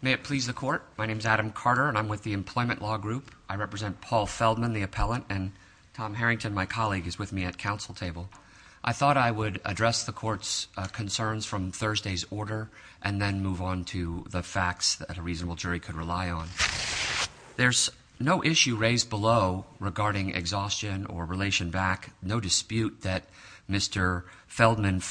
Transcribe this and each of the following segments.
May it please the Court, my name is Adam Carter and I'm with the Employment Law Group. I represent Paul Feldman, the appellant, and Tom Harrington, my colleague, is with me at Council Table. I thought I would address the Court's concerns from Thursday's order and then move on to the facts that a reasonable jury could rely on. There's no issue raised below regarding exhaustion or relation back. No dispute that Mr. Feldman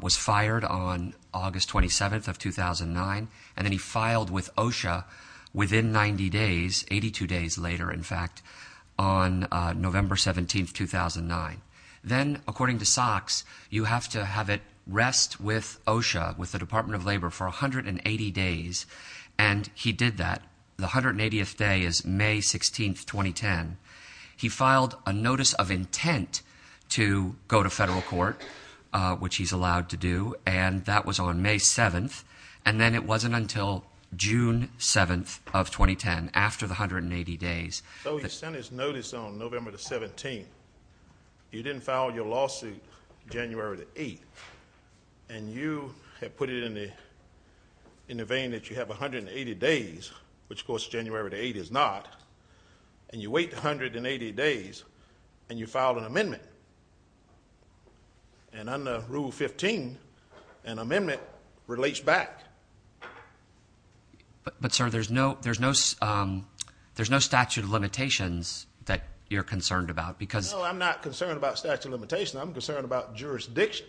was fired on August 27th of 2009 and then he filed with OSHA within 90 days, 82 days later in fact, on November 17th, 2009. Then, according to SOX, you have to have it rest with OSHA, with the Department of Labor, for 180 days and he did that. The 180th day is May 16th, 2010. He filed a notice of intent to go to federal court, which he's allowed to do, and that was on May 7th and then it wasn't until June 7th of 2010, after the 180 days. So he sent his notice on November the 17th. You didn't file your lawsuit January the 8th and you have put it in the vein that you have 180 days, which of course January the 8th is not, and you wait 180 days and you filed an amendment. And under Rule 15, an amendment relates back. But sir, there's no statute of limitations that you're concerned about because... No, I'm not concerned about statute of limitations. I'm concerned about jurisdiction.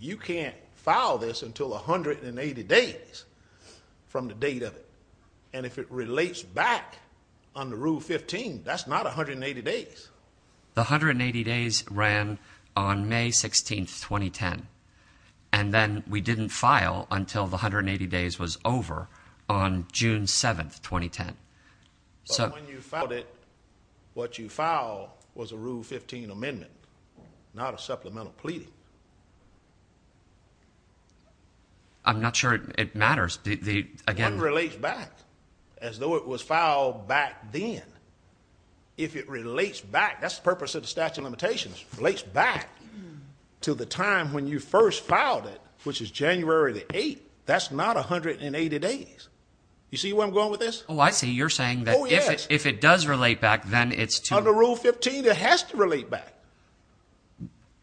You can't file this until 180 days from the date of it. And if it relates back under Rule 15, that's not 180 days. The 180 days ran on May 16th, 2010, and then we didn't file until the 180 days was over on June 7th, 2010. But when you filed it, what you filed was a Rule 15 amendment, not a supplemental pleading. I'm not sure it matters. One relates back as though it was filed back then. If it relates back, that's the purpose of the statute of limitations, relates back to the time when you first filed it, which is January the 8th. That's not 180 days. You see where I'm going with this? Oh, I see. You're saying that if it does relate back, then it's too... Under Rule 15, it has to relate back.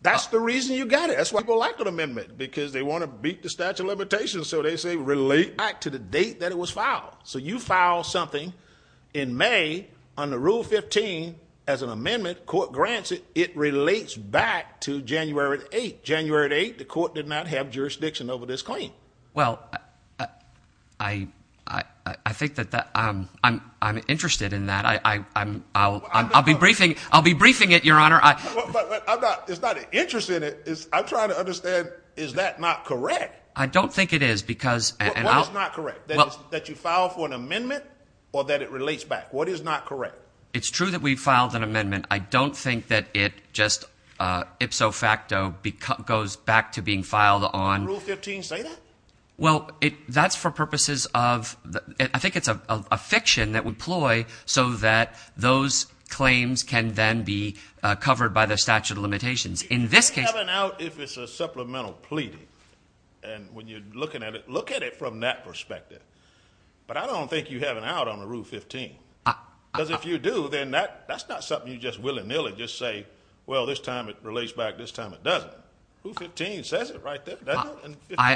That's the reason you got it. That's why people like an amendment because they want to beat the statute of limitations, so they say relate back to the date that it was filed. So you file something in May under Rule 15 as an amendment, court grants it, it relates back to January the 8th. January the 8th, the court did not have jurisdiction over this claim. Well, I think that I'm interested in that. I'll be briefing it, Your Honor. But it's not an interest in it. I'm trying to understand, is that not correct? I don't think it is because... What is not correct, that you file for an amendment or that it relates back? What is not correct? It's true that we filed an amendment. I don't think that it just ipso facto goes back to being filed on... Does Rule 15 say that? Well, that's for purposes of... I think it's a fiction that would ploy so that those claims can then be covered by the statute of limitations. In this case... You have an out if it's a supplemental pleading. And when you're looking at it, look at it from that perspective. But I don't think you have an out under Rule 15. Because if you do, then that's not something you just willy-nilly just say, well, this time it relates back, this time it doesn't. Rule 15 says it right there. I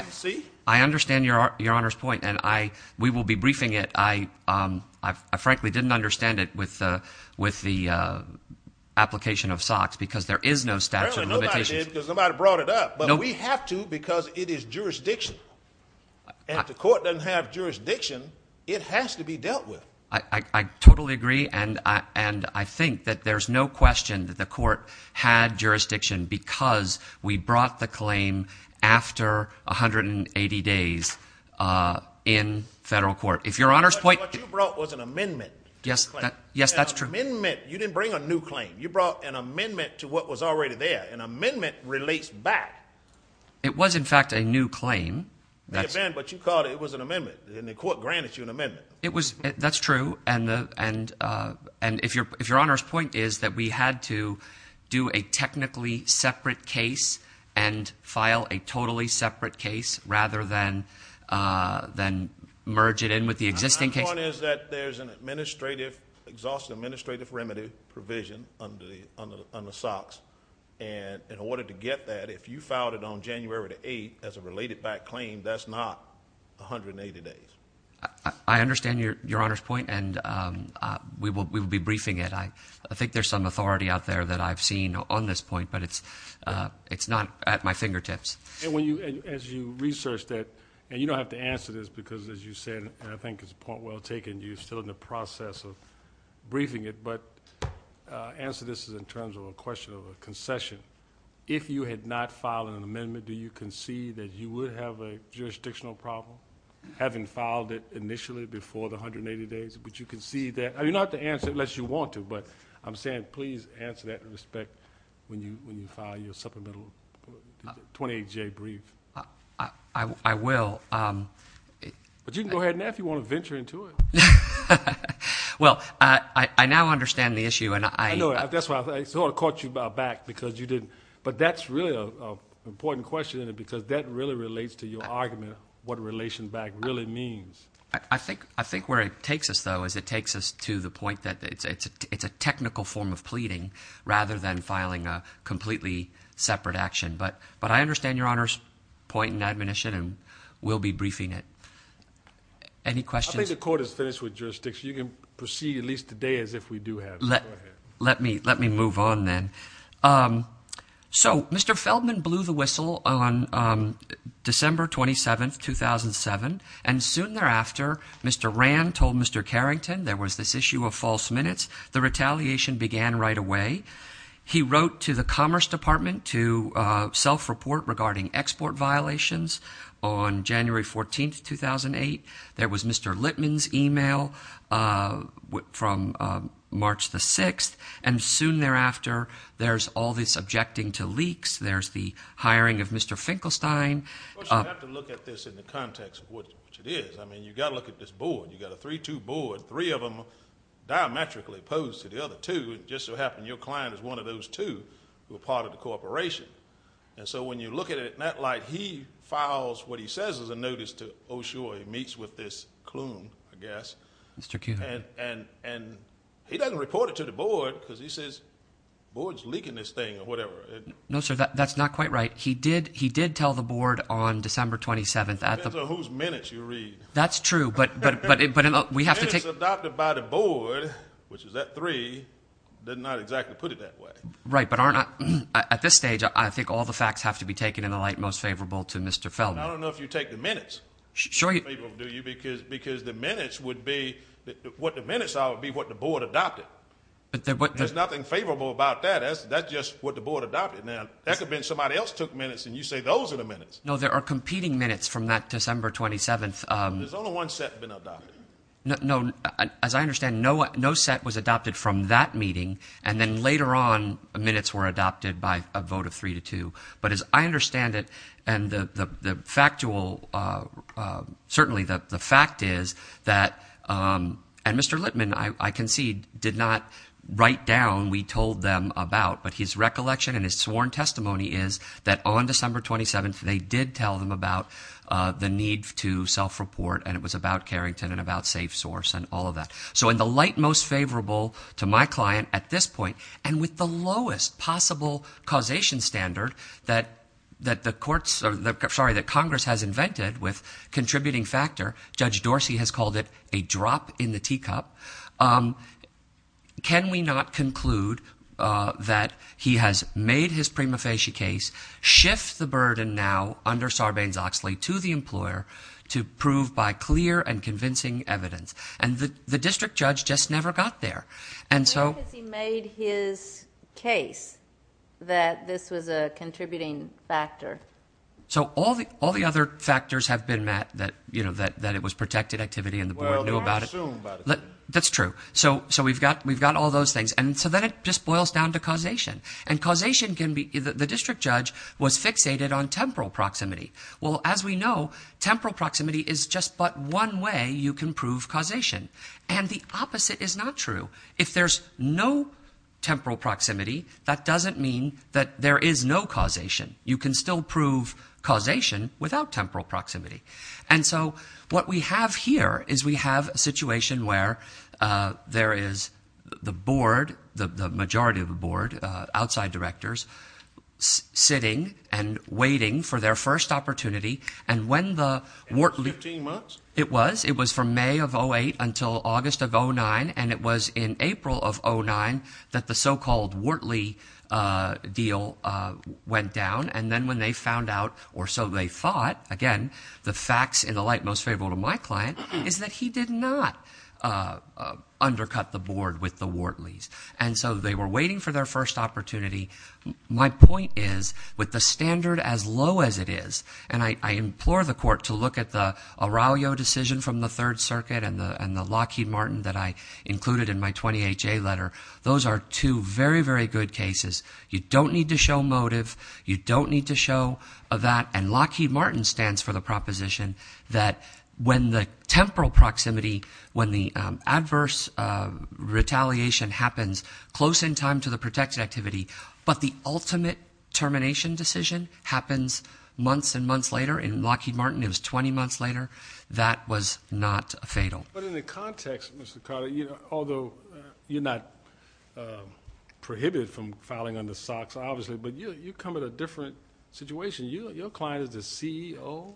understand Your Honor's point, and we will be briefing it. I frankly didn't understand it with the application of SOX because there is no statute of limitations. Apparently nobody did because nobody brought it up. But we have to because it is jurisdiction. If the court doesn't have jurisdiction, it has to be dealt with. I totally agree. And I think that there's no question that the court had jurisdiction because we brought the claim after 180 days in federal court. If Your Honor's point... What you brought was an amendment to the claim. Yes, that's true. An amendment. You didn't bring a new claim. You brought an amendment to what was already there. An amendment relates back. It was, in fact, a new claim. But you called it was an amendment, and the court granted you an amendment. That's true. And if Your Honor's point is that we had to do a technically separate case and file a totally separate case rather than merge it in with the existing case... My point is that there's an administrative, exhaustive administrative remedy provision on the SOX. And in order to get that, if you filed it on January the 8th as a related back claim, that's not 180 days. I understand Your Honor's point, and we will be briefing it. I think there's some authority out there that I've seen on this point, but it's not at my fingertips. And as you research that, and you don't have to answer this because, as you said, and I think it's a point well taken, you're still in the process of briefing it, but answer this in terms of a question of a concession. If you had not filed an amendment, do you concede that you would have a jurisdictional problem having filed it initially before the 180 days? Would you concede that? You don't have to answer unless you want to, but I'm saying please answer that in respect when you file your supplemental 28-J brief. I will. But you can go ahead now if you want to venture into it. Well, I now understand the issue, and I... That's why I sort of caught you by back because you didn't, but that's really an important question in it because that really relates to your argument what relation back really means. I think where it takes us, though, is it takes us to the point that it's a technical form of pleading rather than filing a completely separate action. But I understand Your Honor's point in admonition, and we'll be briefing it. Any questions? I think the Court is finished with jurisdiction. You can proceed at least today as if we do have it. Let me move on then. So Mr. Feldman blew the whistle on December 27, 2007, and soon thereafter Mr. Rand told Mr. Carrington there was this issue of false minutes. The retaliation began right away. He wrote to the Commerce Department to self-report regarding export violations on January 14, 2008. There was Mr. Littman's email from March the 6th, and soon thereafter there's all this objecting to leaks. There's the hiring of Mr. Finkelstein. Of course, you have to look at this in the context of what it is. I mean, you've got to look at this board. You've got a 3-2 board, three of them diametrically opposed to the other two. It just so happened your client is one of those two who are part of the corporation. And so when you look at it in that light, he files what he says is a notice to Oshoi. He meets with this clue, I guess. And he doesn't report it to the board because he says the board is leaking this thing or whatever. No, sir. That's not quite right. He did tell the board on December 27th. It depends on whose minutes you read. That's true, but we have to take – Minutes adopted by the board, which is that three, did not exactly put it that way. Right, but aren't – at this stage, I think all the facts have to be taken in the light most favorable to Mr. Feldman. I don't know if you take the minutes. Sure. Because the minutes would be – what the minutes are would be what the board adopted. There's nothing favorable about that. That's just what the board adopted. Now, that could mean somebody else took minutes, and you say those are the minutes. No, there are competing minutes from that December 27th. There's only one set that's been adopted. No, as I understand, no set was adopted from that meeting, and then later on minutes were adopted by a vote of three to two. But as I understand it, and the factual – certainly the fact is that – and Mr. Littman, I concede, did not write down we told them about, but his recollection and his sworn testimony is that on December 27th, they did tell them about the need to self-report, and it was about Carrington and about safe source and all of that. So in the light most favorable to my client at this point, and with the lowest possible causation standard that the courts – sorry, that Congress has invented with contributing factor, Judge Dorsey has called it a drop in the teacup. Can we not conclude that he has made his prima facie case, shift the burden now under Sarbanes-Oxley to the employer to prove by clear and convincing evidence? And the district judge just never got there, and so – Where has he made his case that this was a contributing factor? So all the other factors have been met, that it was protected activity and the board knew about it. That's true. So we've got all those things, and so then it just boils down to causation, and causation can be – the district judge was fixated on temporal proximity. Well, as we know, temporal proximity is just but one way you can prove causation, and the opposite is not true. If there's no temporal proximity, that doesn't mean that there is no causation. You can still prove causation without temporal proximity. And so what we have here is we have a situation where there is the board, the majority of the board, outside directors, sitting and waiting for their first opportunity, and when the – 15 months? It was. It was from May of 2008 until August of 2009, and it was in April of 2009 that the so-called Wortley deal went down, and then when they found out, or so they thought, again, the facts in the light most favorable to my client, is that he did not undercut the board with the Wortleys. And so they were waiting for their first opportunity. My point is with the standard as low as it is, and I implore the court to look at the Aurelio decision from the Third Circuit and the Lockheed Martin that I included in my 20HA letter. Those are two very, very good cases. You don't need to show motive. You don't need to show that. And Lockheed Martin stands for the proposition that when the temporal proximity, when the adverse retaliation happens close in time to the protected activity, but the ultimate termination decision happens months and months later. In Lockheed Martin, it was 20 months later. That was not fatal. But in the context, Mr. Carter, although you're not prohibited from filing under SOX, obviously, but you come at a different situation. Your client is the CEO.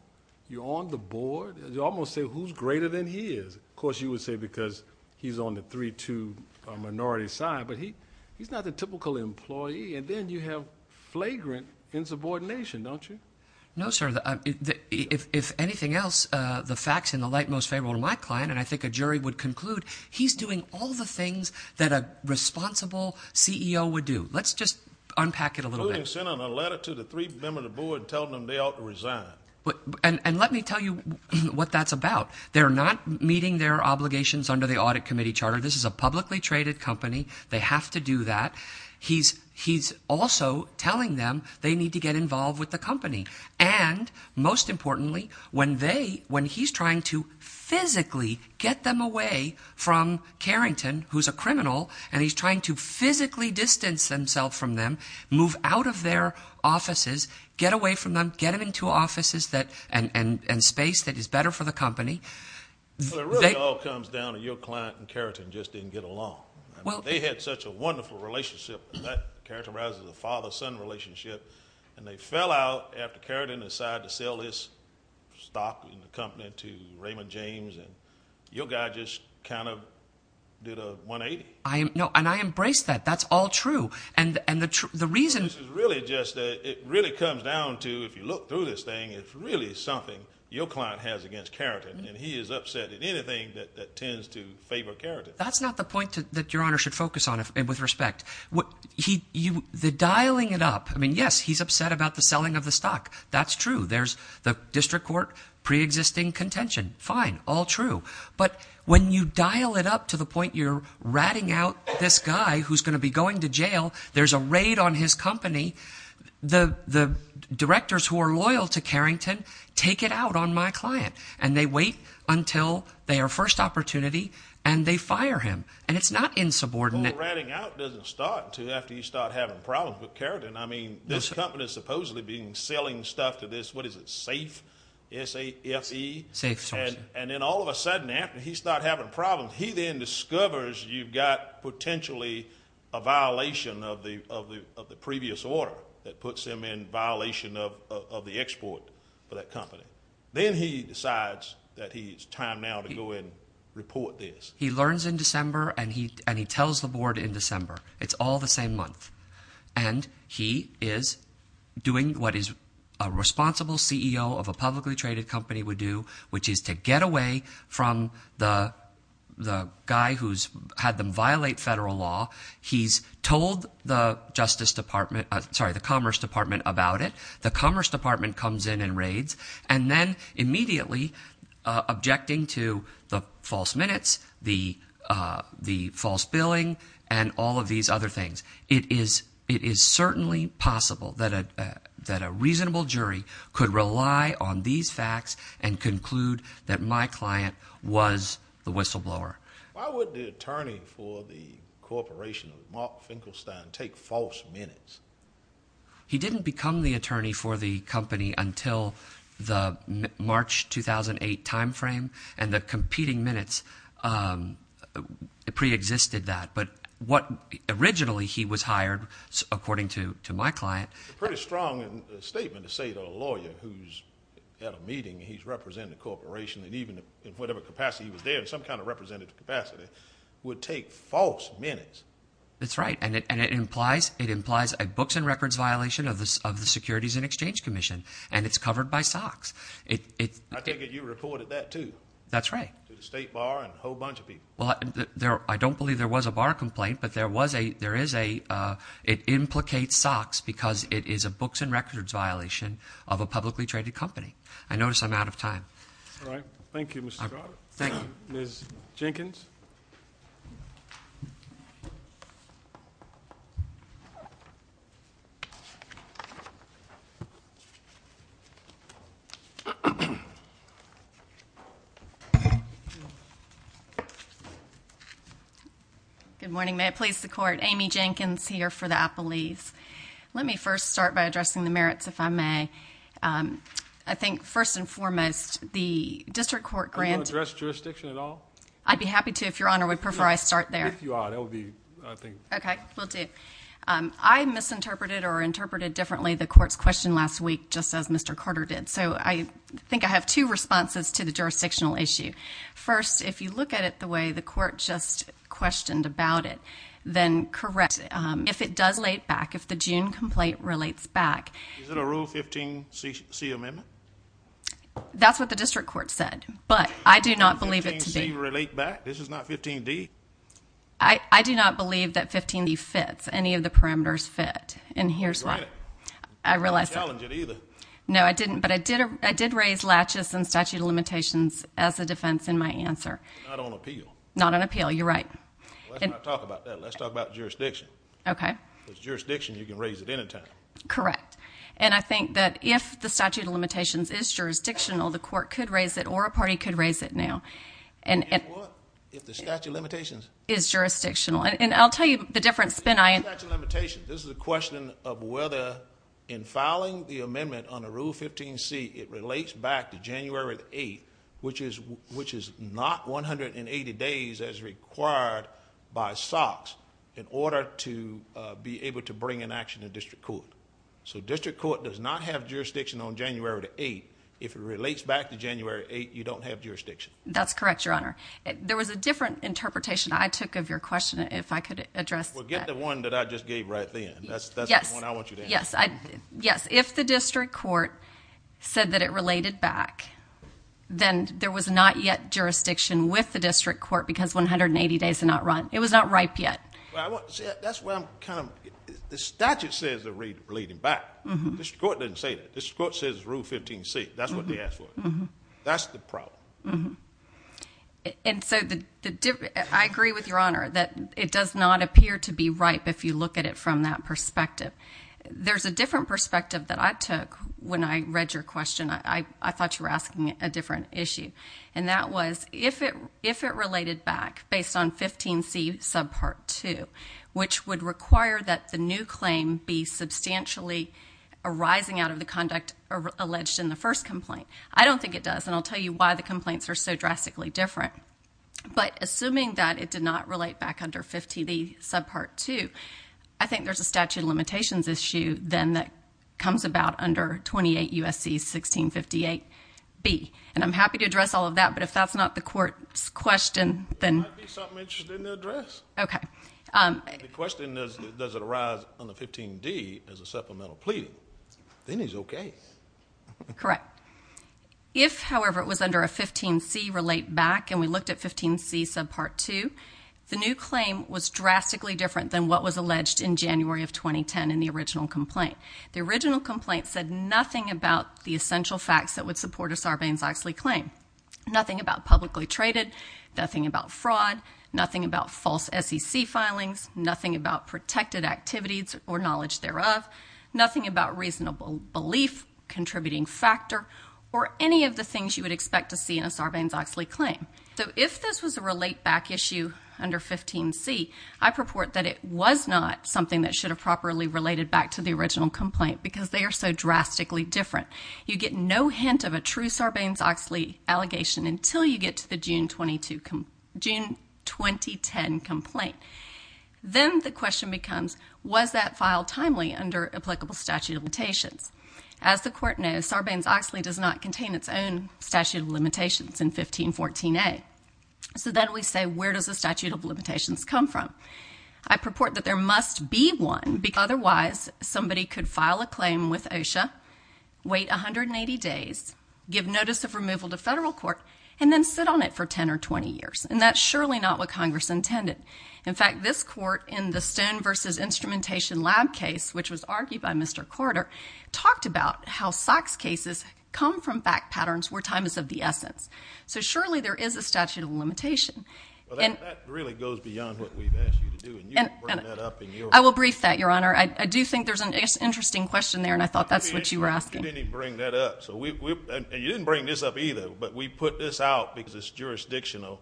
You're on the board. You almost say who's greater than he is. Of course, you would say because he's on the 3-2 minority side, but he's not the typical employee, and then you have flagrant insubordination, don't you? No, sir. If anything else, the facts in the light most favorable to my client, and I think a jury would conclude, he's doing all the things that a responsible CEO would do. Let's just unpack it a little bit. The ruling sent out a letter to the three members of the board telling them they ought to resign. And let me tell you what that's about. They're not meeting their obligations under the audit committee charter. This is a publicly traded company. They have to do that. He's also telling them they need to get involved with the company. And most importantly, when he's trying to physically get them away from Carrington, who's a criminal, and he's trying to physically distance himself from them, move out of their offices, get away from them, get them into offices and space that is better for the company. It really all comes down to your client and Carrington just didn't get along. They had such a wonderful relationship, and that characterizes a father-son relationship, and they fell out after Carrington decided to sell this stock company to Raymond James, and your guy just kind of did a 180. No, and I embrace that. That's all true. And the reason is really just that it really comes down to if you look through this thing, it's really something your client has against Carrington, and he is upset at anything that tends to favor Carrington. That's not the point that Your Honor should focus on with respect. The dialing it up, I mean, yes, he's upset about the selling of the stock. That's true. There's the district court preexisting contention. Fine, all true. But when you dial it up to the point you're ratting out this guy who's going to be going to jail, there's a raid on his company, the directors who are loyal to Carrington take it out on my client, and they wait until their first opportunity, and they fire him, and it's not insubordinate. Well, the whole ratting out doesn't start until after you start having problems with Carrington. I mean, this company is supposedly selling stuff to this, what is it, SAFE, S-A-F-E? SAFE. And then all of a sudden after he starts having problems, he then discovers you've got potentially a violation of the previous order that puts him in violation of the export for that company. Then he decides that it's time now to go and report this. He learns in December, and he tells the board in December. It's all the same month. And he is doing what a responsible CEO of a publicly traded company would do, which is to get away from the guy who's had them violate federal law. He's told the Commerce Department about it. The Commerce Department comes in and raids, and then immediately objecting to the false minutes, the false billing, and all of these other things. It is certainly possible that a reasonable jury could rely on these facts and conclude that my client was the whistleblower. Why would the attorney for the corporation of Mark Finkelstein take false minutes? He didn't become the attorney for the company until the March 2008 timeframe, and the competing minutes preexisted that. But what originally he was hired, according to my client. It's a pretty strong statement to say that a lawyer who's at a meeting, and he's representing a corporation, and even in whatever capacity he was there, in some kind of representative capacity, would take false minutes. That's right. And it implies a books and records violation of the Securities and Exchange Commission, and it's covered by SOX. I take it you reported that, too. That's right. To the state bar and a whole bunch of people. I don't believe there was a bar complaint, but it implicates SOX because it is a books and records violation of a publicly traded company. I notice I'm out of time. All right. Thank you, Mr. Carter. Thank you. Ms. Jenkins. Good morning. May it please the Court, Amy Jenkins here for the Appellees. Let me first start by addressing the merits, if I may. I think, first and foremost, the district court grant Do you want to address jurisdiction at all? I'd be happy to if Your Honor would prefer I start there. If you are, that would be, I think. Okay. Will do. I misinterpreted or interpreted differently the Court's question last week, just as Mr. Carter did. So I think I have two responses to the jurisdictional issue. First, if you look at it the way the Court just questioned about it, then correct. If it does relate back, if the June complaint relates back. Is it a Rule 15c amendment? That's what the district court said. But I do not believe it to be. 15c relate back? This is not 15d? I do not believe that 15d fits. Any of the parameters fit. And here's why. I realize that. I didn't challenge it either. No, I didn't. But I did raise latches and statute of limitations as a defense in my answer. Not on appeal. Not on appeal. You're right. Let's not talk about that. Let's talk about jurisdiction. Okay. Because jurisdiction, you can raise it any time. Correct. And I think that if the statute of limitations is jurisdictional, the Court could raise it or a party could raise it now. If the statute of limitations is jurisdictional. And I'll tell you the difference. This is a question of whether in filing the amendment on a Rule 15c, it relates back to January 8th, which is not 180 days as required by SOX, in order to be able to bring an action to district court. So district court does not have jurisdiction on January 8th if it relates back to January 8th, you don't have jurisdiction. That's correct, Your Honor. There was a different interpretation I took of your question, if I could address that. Well, get the one that I just gave right then. Yes. That's the one I want you to answer. Yes. If the district court said that it related back, then there was not yet jurisdiction with the district court because 180 days did not run. It was not ripe yet. That's why I'm kind of – the statute says it's relating back. The district court doesn't say that. The district court says it's Rule 15c. That's what they ask for. That's the problem. And so I agree with Your Honor that it does not appear to be ripe if you look at it from that perspective. There's a different perspective that I took when I read your question. I thought you were asking a different issue, and that was if it related back based on 15c subpart 2, which would require that the new claim be substantially arising out of the conduct alleged in the first complaint. I don't think it does, and I'll tell you why the complaints are so drastically different. But assuming that it did not relate back under 15b subpart 2, I think there's a statute of limitations issue then that comes about under 28 U.S.C. 1658b. And I'm happy to address all of that, but if that's not the court's question, then – It might be something interesting to address. Okay. The question is, does it arise under 15d as a supplemental plea? Then it's okay. Correct. If, however, it was under a 15c relate back, and we looked at 15c subpart 2, the new claim was drastically different than what was alleged in January of 2010 in the original complaint. The original complaint said nothing about the essential facts that would support a Sarbanes-Oxley claim, nothing about publicly traded, nothing about fraud, nothing about false SEC filings, nothing about protected activities or knowledge thereof, nothing about reasonable belief, contributing factor or any of the things you would expect to see in a Sarbanes-Oxley claim. So if this was a relate back issue under 15c, I purport that it was not something that should have properly related back to the original complaint because they are so drastically different. You get no hint of a true Sarbanes-Oxley allegation until you get to the June 2010 complaint. Then the question becomes, was that file timely under applicable statute of limitations? As the court knows, Sarbanes-Oxley does not contain its own statute of limitations in 1514a. So then we say, where does the statute of limitations come from? I purport that there must be one because otherwise somebody could file a claim with OSHA, wait 180 days, give notice of removal to federal court and then sit on it for 10 or 20 years. And that's surely not what Congress intended. In fact, this court in the stone versus instrumentation lab case, which was argued by Mr. Carter talked about how socks cases come from back patterns where time is of the essence. So surely there is a statute of limitation. And that really goes beyond what we've asked you to do. And I will brief that your honor. I do think there's an interesting question there. And I thought that's what you were asking. Bring that up. So you didn't bring this up either, but we put this out because it's jurisdictional.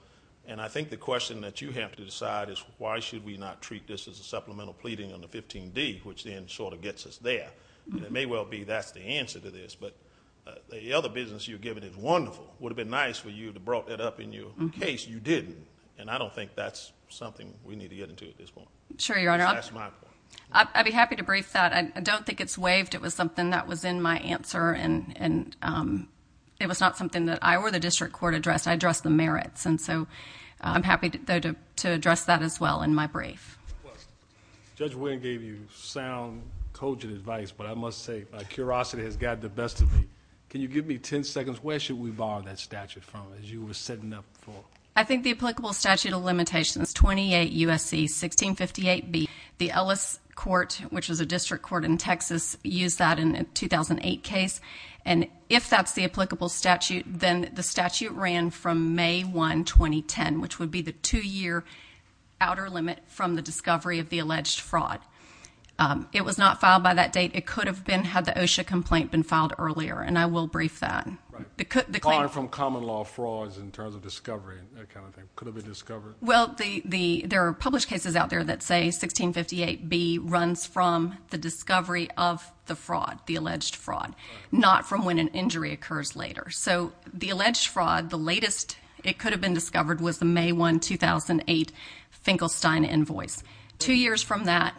And I think the question that you have to decide is why should we not treat this as a supplemental pleading on the 15d, which then sort of gets us there. And it may well be that's the answer to this, but the other business you're giving is wonderful. Would have been nice for you to brought that up in your case. You didn't. And I don't think that's something we need to get into at this point. Sure. Your Honor. I'd be happy to brief that. I don't think it's waived. It was something that was in my answer and, and it was not something that I were the district court addressed. I addressed the merits. And so I'm happy to address that as well in my brief. Judge Winn gave you sound, cogent advice, but I must say my curiosity has got the best of me. Can you give me 10 seconds? Where should we borrow that statute from as you were setting up for? I think the applicable statute of limitations, 28 USC, 1658 B. The Ellis court, which was a district court in Texas used that in a 2008 case. And if that's the applicable statute, then the statute ran from may one, 2010, which would be the two year outer limit from the discovery of the alleged fraud. It was not filed by that date. It could have been had the OSHA complaint been filed earlier. And I will brief that from common law frauds in terms of discovery, that kind of thing could have been discovered. Well, the, the, there are published cases out there that say 1658 B runs from the discovery of the fraud, the alleged fraud, not from when an injury occurs later. So the alleged fraud, the latest it could have been discovered was the may one 2008 Finkelstein invoice. Two years from that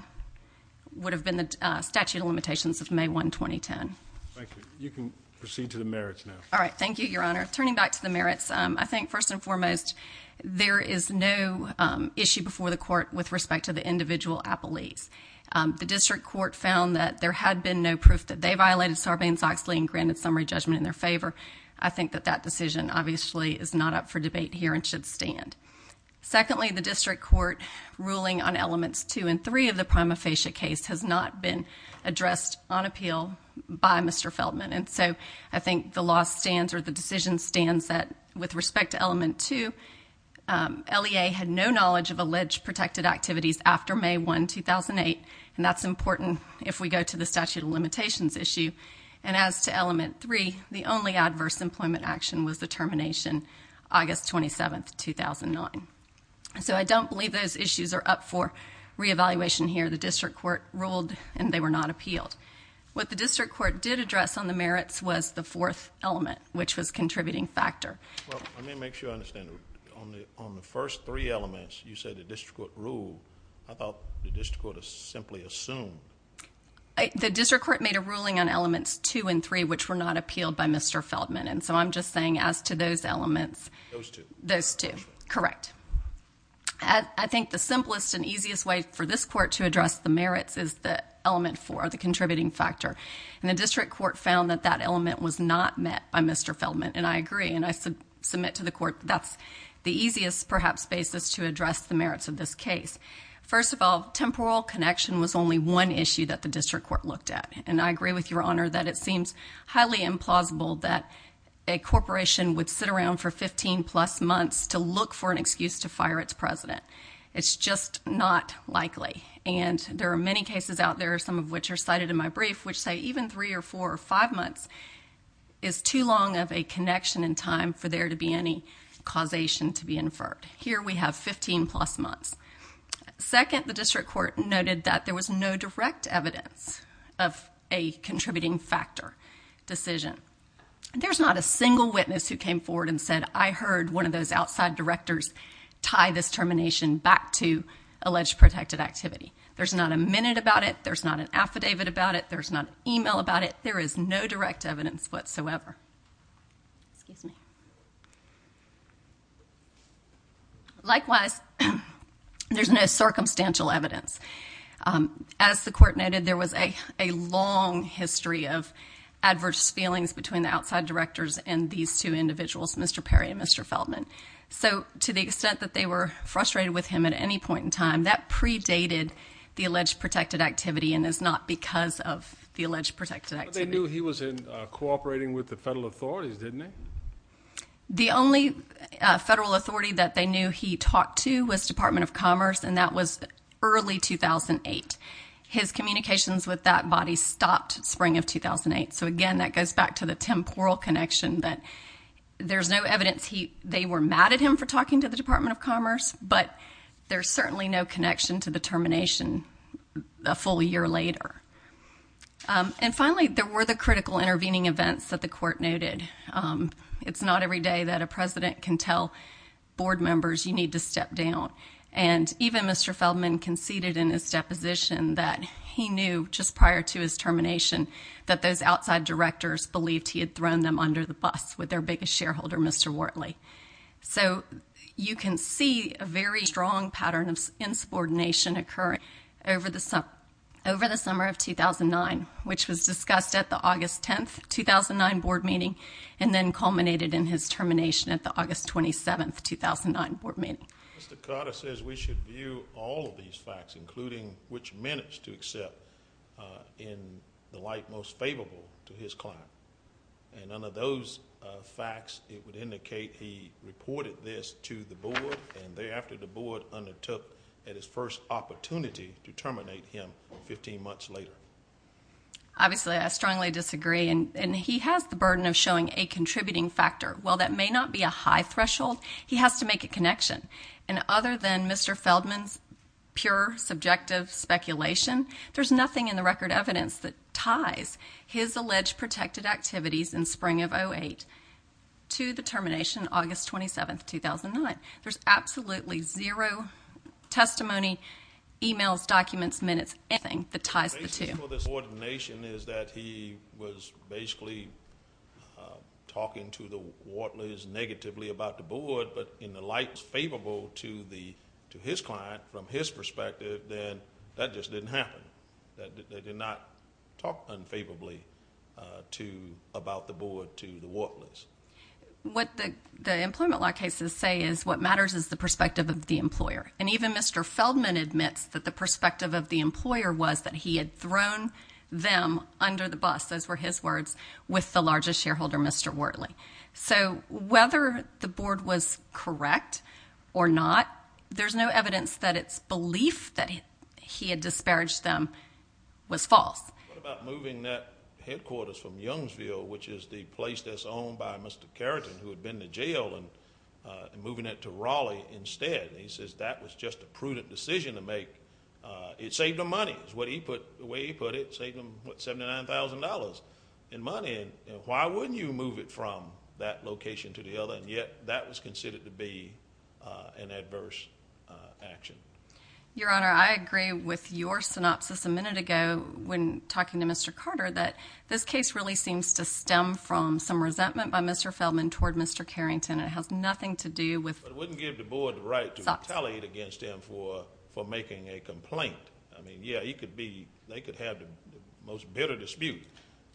would have been the statute of limitations of may one, 2010. Thank you. You can proceed to the merits now. All right. Thank you, your honor turning back to the merits. I think first and foremost, there is no issue before the court with respect to the individual Apple lease. The district court found that there had been no proof that they violated Sarbanes-Oxley and granted summary judgment in their favor. I think that that decision obviously is not up for debate here and should stand. Secondly, the district court ruling on elements two and three of the prima facie case has not been addressed on appeal by Mr. Feldman. And so I think the law stands or the decision stands that with respect to element two, um, LEA had no knowledge of alleged protected activities after may one, 2008. And that's important if we go to the statute of limitations issue. And as to element three, the only adverse employment action was the termination, August 27th, 2009. So I don't believe those issues are up for reevaluation here. The district court ruled and they were not appealed. What the district court did address on the merits was the fourth element, which was contributing factor. Well, let me make sure I understand on the, on the first three elements, you said the district court rule. I thought the district court has simply assumed the district court made a ruling on elements two and three, which were not appealed by Mr. Feldman. And so I'm just saying as to those elements, those two, those two, correct. I think the simplest and easiest way for this court to address the merits is the element for the contributing factor. And the district court found that that element was not met by Mr. Feldman. And I agree. And I said, submit to the court. That's the easiest, perhaps basis to address the merits of this case. First of all, temporal connection was only one issue that the district court looked at. And I agree with your honor that it seems highly implausible that a corporation would sit around for 15 plus months to look for an excuse to fire its president. It's just not likely. And there are many cases out there, some of which are cited in my brief, which say even three or four or five months is too long of a connection in time for there to be any causation to be inferred here. We have 15 plus months. Second, the district court noted that there was no direct evidence of a contributing factor decision. There's not a single witness who came forward and said, I heard one of those outside directors tie this termination back to alleged protected activity. There's not a minute about it. There's not an affidavit about it. There's not an email about it. There is no direct evidence whatsoever. Excuse me. Likewise, there's no circumstantial evidence. Um, as the court noted, there was a, a long history of adverse feelings between the outside directors and these two individuals, Mr. Perry and Mr. Feldman. So to the extent that they were frustrated with him at any point in time, that predated the alleged protected activity and is not because of the alleged protected. He was in, uh, cooperating with the federal authorities, didn't they? The only federal authority that they knew he talked to was department of commerce. And that was early 2008. His communications with that body stopped spring of 2008. So again, that goes back to the temporal connection that there's no evidence. He, they were mad at him for talking to the department of commerce, but there's certainly no connection to the termination a full year later. Um, and finally there were the critical intervening events that the court noted. Um, it's not every day that a president can tell board members you need to step down. And even Mr. Feldman conceded in his deposition that he knew just prior to his termination, that those outside directors believed he had thrown them under the bus with their biggest shareholder, Mr. Wortley. So you can see a very strong pattern of insubordination occurring over the summer, over the summer of 2009, which was discussed at the August 10th, 2009 board meeting and then culminated in his termination at the August 27th, 2009 board meeting. Mr. Carter says we should view all of these facts, including which minutes to accept, uh, in the light, most favorable to his client. And under those, uh, facts, it would indicate he reported this to the board. And thereafter the board undertook at his first opportunity to terminate him 15 months later. Obviously I strongly disagree. And he has the burden of showing a contributing factor. While that may not be a high threshold, he has to make a connection. And other than Mr. Feldman's pure subjective speculation, there's nothing in the record evidence that ties his alleged protected activities in spring of 08 to the termination, August 27th, 2009. There's absolutely zero testimony, emails, documents, minutes, anything that ties the two nation is that he was basically, uh, talking to the Wartley's negatively about the board, but in the light is favorable to the, to his client from his perspective, then that just didn't happen. That they did not talk unfavorably, uh, to about the board, to the worthless. What the, the employment law cases say is what matters is the perspective of the employer. And even Mr. Feldman admits that the perspective of the employer was that he had thrown them under the bus. Those were his words with the largest shareholder, Mr. Wortley. So whether the board was correct or not, there's no evidence that it's belief that he had disparaged them was false. Moving that headquarters from Youngsville, which is the place that's owned by Mr. Carrington, who had been to jail and, uh, and moving it to Raleigh instead. And he says, that was just a prudent decision to make. Uh, it saved him money. It was what he put, the way he put it saved him $79,000 in money. And why wouldn't you move it from that location to the other? And yet that was considered to be, uh, an adverse, uh, action. Your honor. I agree with your synopsis a minute ago when talking to Mr. Carter, that this case really seems to stem from some resentment by Mr. Feldman toward Mr. Carrington. It has nothing to do with, but it wouldn't give the board the right to retaliate against him for, for making a complaint. I mean, yeah, he could be, they could have the most bitter dispute.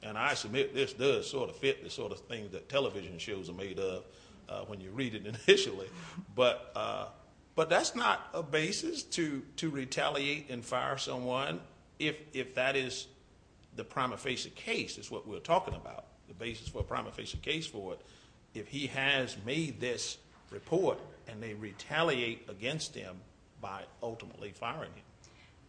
And I submit this does sort of fit the sort of things that television shows are made of, uh, when you read it initially, but, uh, but that's not a basis to, to retaliate and fire someone. If, if that is the prima facie case is what we're talking about. The basis for a prima facie case for it. If he has made this report and they retaliate against him by ultimately firing him.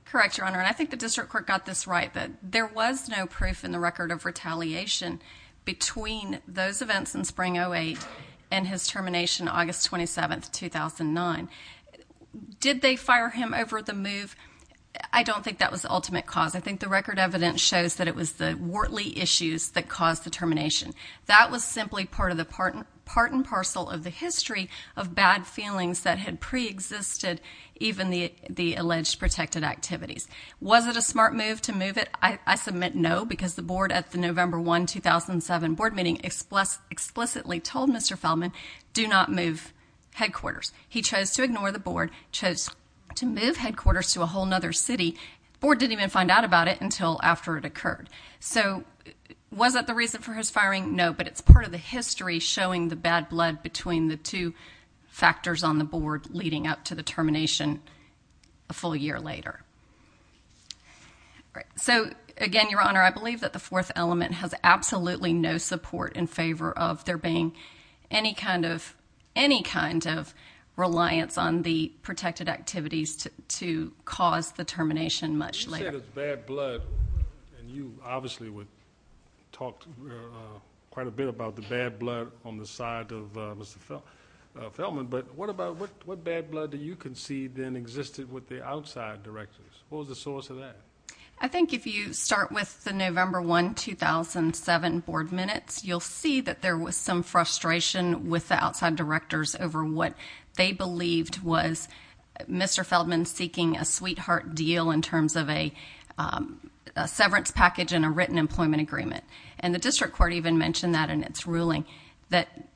Correct. Your Honor. And I think the district court got this right, but there was no proof in the record of retaliation between those events in spring. Oh, eight and his termination, August 27th, 2009. Did they fire him over the move? I don't think that was the ultimate cause. I think the record evidence shows that it was the Wortley issues that caused the termination. That was simply part of the part and parcel of the history of bad feelings that had preexisted. Even the, the alleged protected activities. Was it a smart move to move it? I submit. No, because the board at the November one, 2007 board meeting express explicitly told Mr. Feldman do not move headquarters. He chose to ignore the board, chose to move headquarters to a whole nother city board. Didn't even find out about it until after it occurred. So was that the reason for his firing? No, but it's part of the history showing the bad blood between the two factors on the board leading up to the termination. A full year later. Great. So again, your honor, I believe that the fourth element has absolutely no support in favor of there being any kind of, any kind of reliance on the protected activities to, to cause the termination much later. Bad blood. And you obviously would talk. Quite a bit about the bad blood on the side of Mr. Feldman. But what about what, what bad blood do you concede then existed with the outside directors? What was the source of that? I think if you start with the November one, 2007 board minutes, you'll see that there was some frustration with the outside directors over what they believed was Mr. Feldman seeking a sweetheart deal in terms of a severance package and a written employment agreement. And the district court even mentioned that in its ruling, that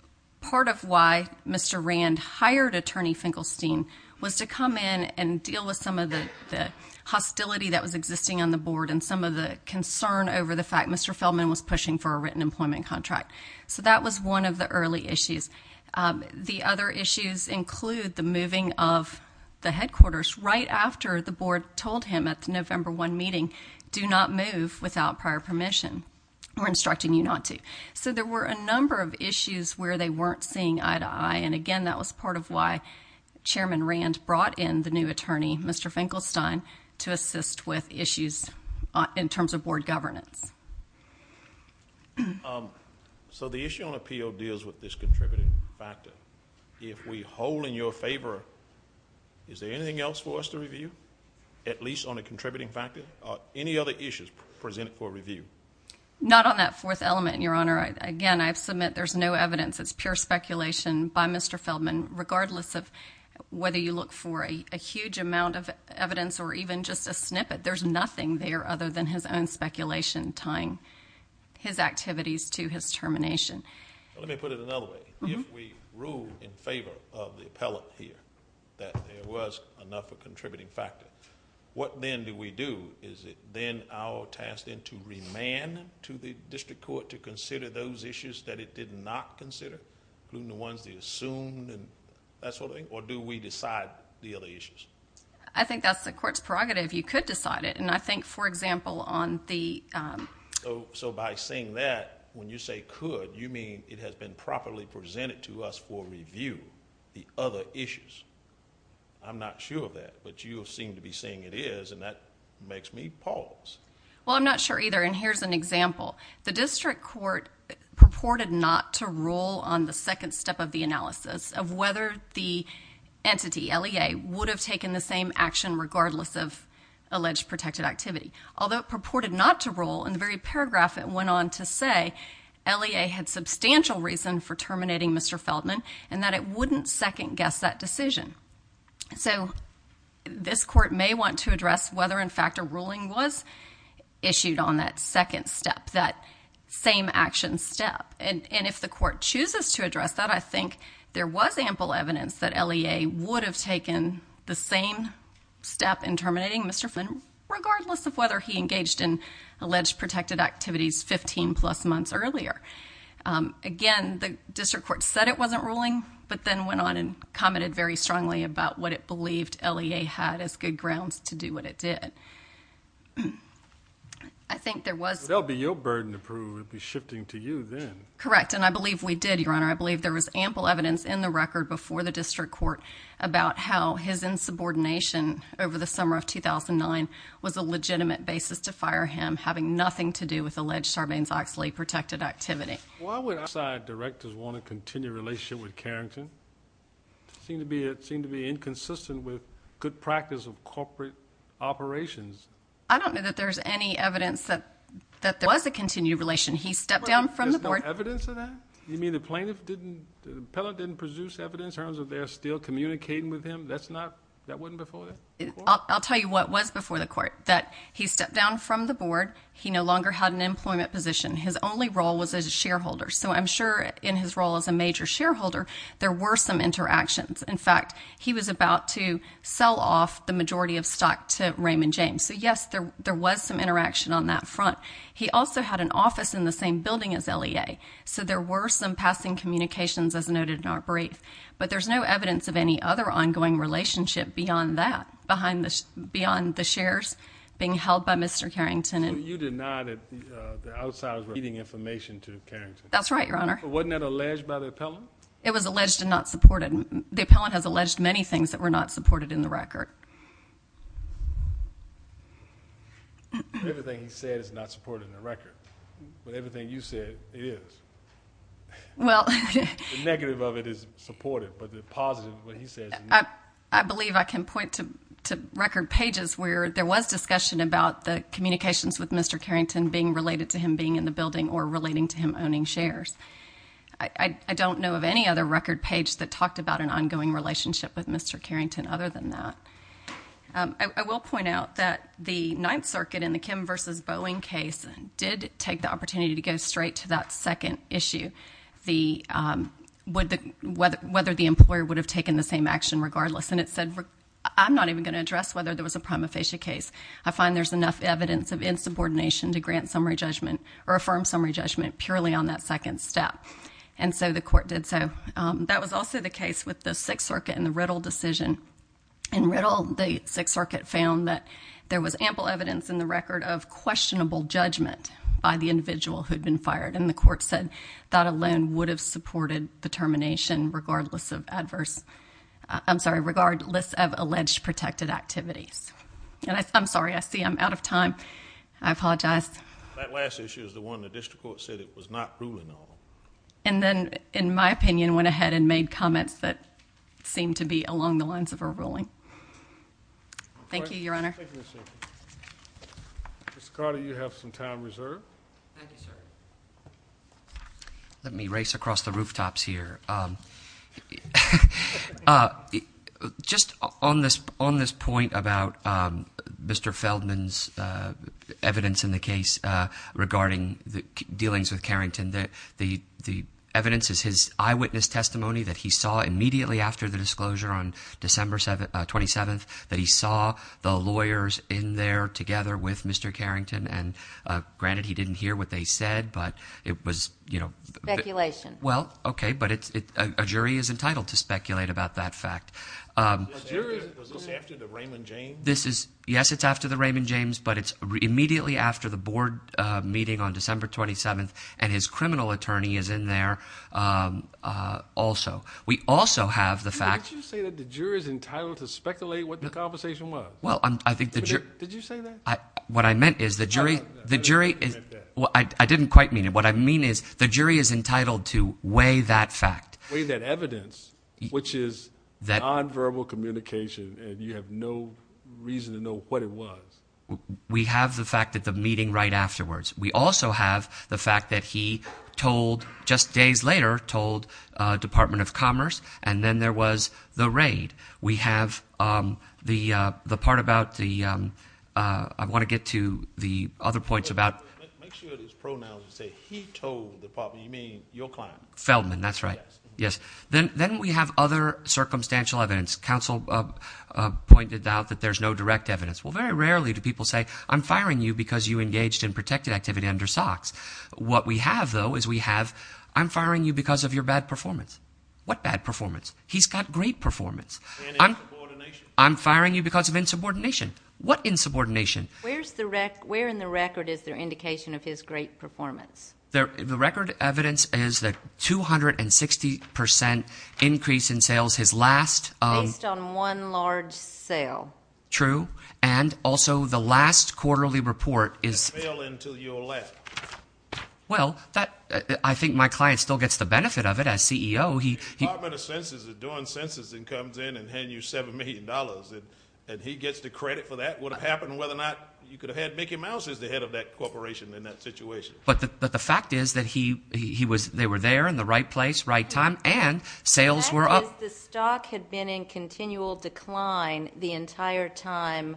part of why Mr. Rand hired attorney Finkelstein was to come in and deal with some of the hostility that was existing on the board. And some of the concern over the fact, Mr. Feldman was pushing for a written employment contract. So that was one of the early issues. The other issues include the moving of the headquarters right after the board told him at the November one meeting, do not move without prior permission. We're instructing you not to. So there were a number of issues where they weren't seeing eye to eye. And again, that was part of why chairman Rand brought in the new attorney, Mr. Finkelstein to assist with issues in terms of board governance. So the issue on appeal deals with this contributing factor. If we hold in your favor, is there anything else for us to review at least on a contributing factor or any other issues presented for review? Not on that fourth element and your honor. Again, I've submit there's no evidence it's pure speculation by Mr. Feldman, regardless of whether you look for a huge amount of evidence or even just a snippet, there's nothing there other than his own speculation, tying his activities to his termination. Let me put it another way. If we rule in favor of the appellate here, that there was enough of contributing factor, what then do we do? Is it then our task then to remand to the district court to consider those issues that it did not consider, including the ones they assumed and that sort of thing? Or do we decide the other issues? I think that's the court's prerogative. You could decide it. And I think for example, on the... So by saying that, when you say could, you mean it has been properly presented to us for review, the other issues. I'm not sure of that, but you seem to be saying it is. And that makes me pause. Well, I'm not sure either. And here's an example. The district court purported not to rule on the second step of the analysis of whether the entity, LEA, would have taken the same action regardless of alleged protected activity. Although it purported not to rule, in the very paragraph it went on to say LEA had substantial reason for terminating Mr. Feldman and that it wouldn't second guess that decision. So this court may want to address whether in fact a ruling was issued on that second step, that same action step. And if the court chooses to address that, I think there was ample evidence that LEA would have taken the same step in terminating Mr. Feldman, regardless of whether he engaged in alleged protected activities 15 plus months earlier. Again, the district court said it wasn't ruling, but then went on and commented very strongly about what it believed LEA had as good grounds to do what it did. I think there was, there'll be your burden approved. It'd be shifting to you then. Correct. And I believe we did your honor. I believe there was ample evidence in the record before the district court about how his insubordination over the summer of 2009 was a legitimate basis to fire him, having nothing to do with alleged Sarbanes-Oxley protected activity. Directors want to continue relationship with Carrington seem to be, it seemed to be inconsistent with good practice of corporate operations. I don't know that there's any evidence that, that there was a continued relation. He stepped down from the board evidence of that. You mean the plaintiff didn't, the pellet didn't produce evidence terms of they're still communicating with him. That's not that wasn't before that. I'll tell you what was before the court that he stepped down from the board. He no longer had an employment position. His only role was as a shareholder. So I'm sure in his role as a major shareholder, there were some interactions. In fact, he was about to sell off the majority of stock to Raymond James. So yes, there, there was some interaction on that front. He also had an office in the same building as LEA. So there were some passing communications as noted in our brief, but there's no evidence of any other ongoing relationship beyond that, behind the, beyond the shares being held by Mr. Carrington. And you did not at the, uh, the outsiders were eating information to Karen. That's right. Your Honor. Wasn't that alleged by the appellant? It was alleged to not support it. The appellant has alleged many things that were not supported in the record. Everything he said is not supported in the record, but everything you said it is. Well, negative of it is supportive, but the positive, what he says, I believe I can point to, to record pages where there was discussion about the communications that Mr. Carrington being related to him being in the building or relating to him owning shares. I don't know of any other record page that talked about an ongoing relationship with Mr. Carrington. Other than that, um, I will point out that the ninth circuit in the Kim versus Boeing case did take the opportunity to go straight to that second issue. The, um, would the weather, whether the employer would have taken the same action regardless. And it said, I'm not even going to address whether there was a prima facie case. I find there's enough evidence of insubordination to grant summary judgment or affirm summary judgment purely on that second step. And so the court did. So, um, that was also the case with the sixth circuit and the riddle decision and riddle. The sixth circuit found that there was ample evidence in the record of questionable judgment by the individual who'd been fired. And the court said that alone would have supported the termination regardless of adverse, I'm sorry, regardless of alleged protected activities. And I, I'm sorry, I see I'm out of time. I apologize. That last issue is the one that district court said it was not ruling. And then in my opinion, went ahead and made comments that seemed to be along the lines of a ruling. Thank you, your honor. Mr. Carter, you have some time reserved. Thank you, sir. Let me race across the rooftops here. Um, uh, just on this, on this point about, um, Mr. Feldman's, uh, evidence in the case, uh, regarding the dealings with Carrington, that the, the evidence is his eyewitness testimony that he saw immediately after the disclosure on December 27th, that he saw the lawyers in there together with Mr. Carrington. And, uh, granted, he didn't hear what they said, but it was, you know, speculation. Well, okay. But it's, it, uh, a jury is entitled to speculate about that fact. Um, this is, yes, it's after the Raymond James, but it's immediately after the board, uh, meeting on December 27th and his criminal attorney is in there. Um, uh, also, we also have the fact that the jury is entitled to speculate what the conversation was. Well, I think the jury, did you say that? I, what I meant is the jury, the jury is, well, I didn't quite mean it. What I mean is the jury is entitled to weigh that fact, weigh that evidence, which is that nonverbal communication. And you have no reason to know what it was. We have the fact that the meeting right afterwards, we also have the fact that he told just days later told, uh, department of commerce. And then there was the raid. We have, um, the, uh, the part about the, um, uh, I want to get to the other points about. Make sure it is pronouns. You say, he told the department, you mean your client Feldman? That's right. Yes. Then, then we have other circumstantial evidence. Counsel, uh, uh, pointed out that there's no direct evidence. Well, very rarely do people say I'm firing you because you engaged in protected activity under socks. What we have though, is we have, I'm firing you because of your bad performance. What bad performance he's got great performance. I'm, I'm firing you because of insubordination. What insubordination? Where's the rec? Where in the record is there indication of his great performance? There, the record evidence is that 260% increase in sales. His last, um, based on one large sale. True. And also the last quarterly report is. Well, that, I think my client still gets the benefit of it as CEO. He, he, but a census is doing census and comes in and hand you $7 million. And he gets the credit for that. That would have happened whether or not you could have had Mickey mouse is the head of that corporation in that situation. But the, but the fact is that he, he was, they were there in the right place, right time. And sales were up. The stock had been in continual decline the entire time.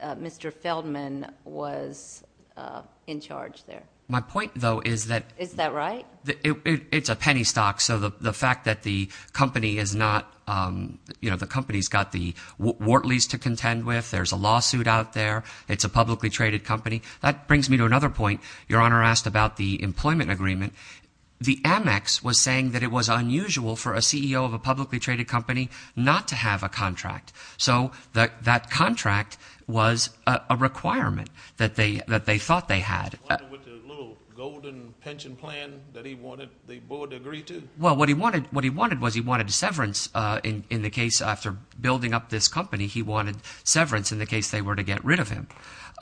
Uh, Mr. Feldman was, uh, in charge there. My point though, is that, is that right? It's a penny stock. So the, the fact that the company is not, um, you know, the company's got the Wortley's to contend with. There's a lawsuit out there. It's a publicly traded company. That brings me to another point. Your honor asked about the employment agreement. The Amex was saying that it was unusual for a CEO of a publicly traded company, not to have a contract. So that, that contract was a requirement that they, that they thought they had a little golden pension plan that he wanted. The board agreed to. Well, what he wanted, what he wanted was he wanted to severance, uh, in, in the case after building up this company, he wanted severance in the case they were to get rid of him.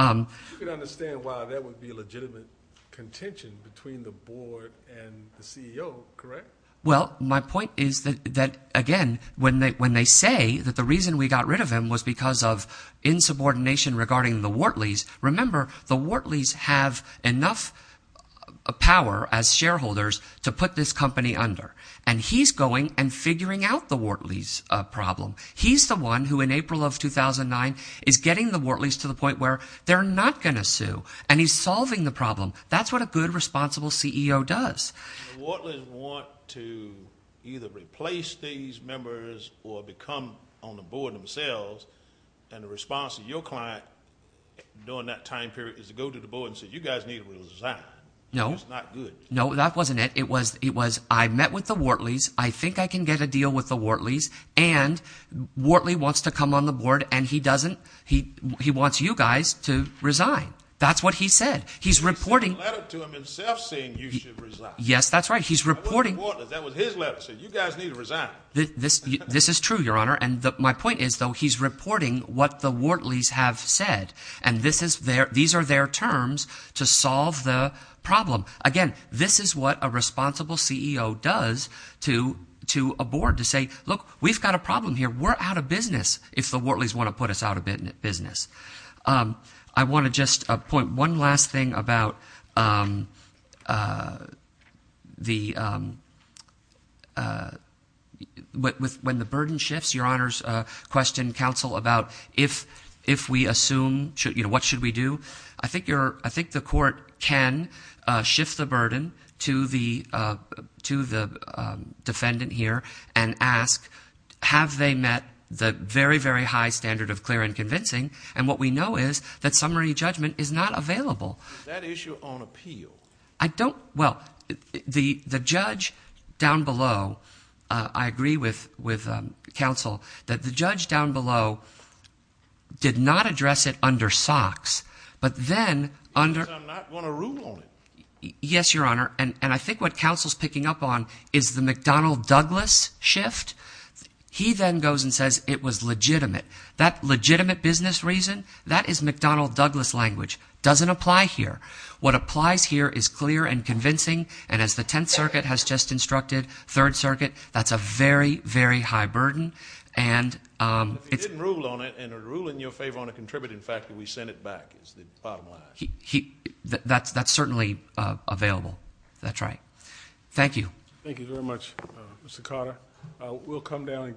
Um, you could understand why that would be a legitimate contention between the board and the CEO. Correct. Well, my point is that, that again, when they, when they say that the reason we got rid of him was because of insubordination regarding the Wortley's. Remember the Wortley's have enough power as shareholders to put this company under and he's going and figuring out the Wortley's, uh, problem. He's the one who in April of 2009 is getting the Wortley's to the point where they're not going to sue. And he's solving the problem. That's what a good responsible CEO does. The Wortley's want to either replace these members or become on the board themselves. And the response of your client during that time period is to go to the board and say, you guys need to resign. No, it's not good. No, that wasn't it. It was, it was, I met with the Wortley's. I think I can get a deal with the Wortley's and Wortley wants to come on the board and he doesn't, he, he wants you guys to resign. That's what he said. He's reporting. He sent a letter to him himself saying you should resign. Yes, that's right. He's reporting. That was his letter saying you guys need to resign. This, this is true, your honor. And my point is though, he's reporting what the Wortley's have said. And this is their, these are their terms to solve the problem. Again, this is what a responsible CEO does to, to a board to say, look, we've got a problem here. We're out of business. If the Wortley's want to put us out of business. Um, I want to just point one last thing about, um, uh, the, um, uh, with when the burden shifts your honors, uh, question council about if, if we assume, you know, what should we do? I think you're, I think the court can, uh, shift the burden to the, uh, to the, um, defendant here and ask, have they met the very, very high standard of clear and convincing. And what we know is that summary judgment is not available. That issue on appeal. I don't, well, the, the judge down below, uh, I agree with, with, um, council that the judge down below did not address it under socks, but then under, yes, your honor. And, and I think what council's picking up on is the McDonnell Douglas shift. He then goes and says it was legitimate, that legitimate business reason that is McDonnell Douglas language doesn't apply here. What applies here is clear and convincing. And as the 10th circuit has just instructed third circuit, that's a very, very high burden. And, um, it's ruled on it and a rule in your favor on a contributing factor. We send it back. He, he that's, that's certainly available. That's right. Thank you. Thank you very much, Mr. Carter. Uh, we'll come down and greet council.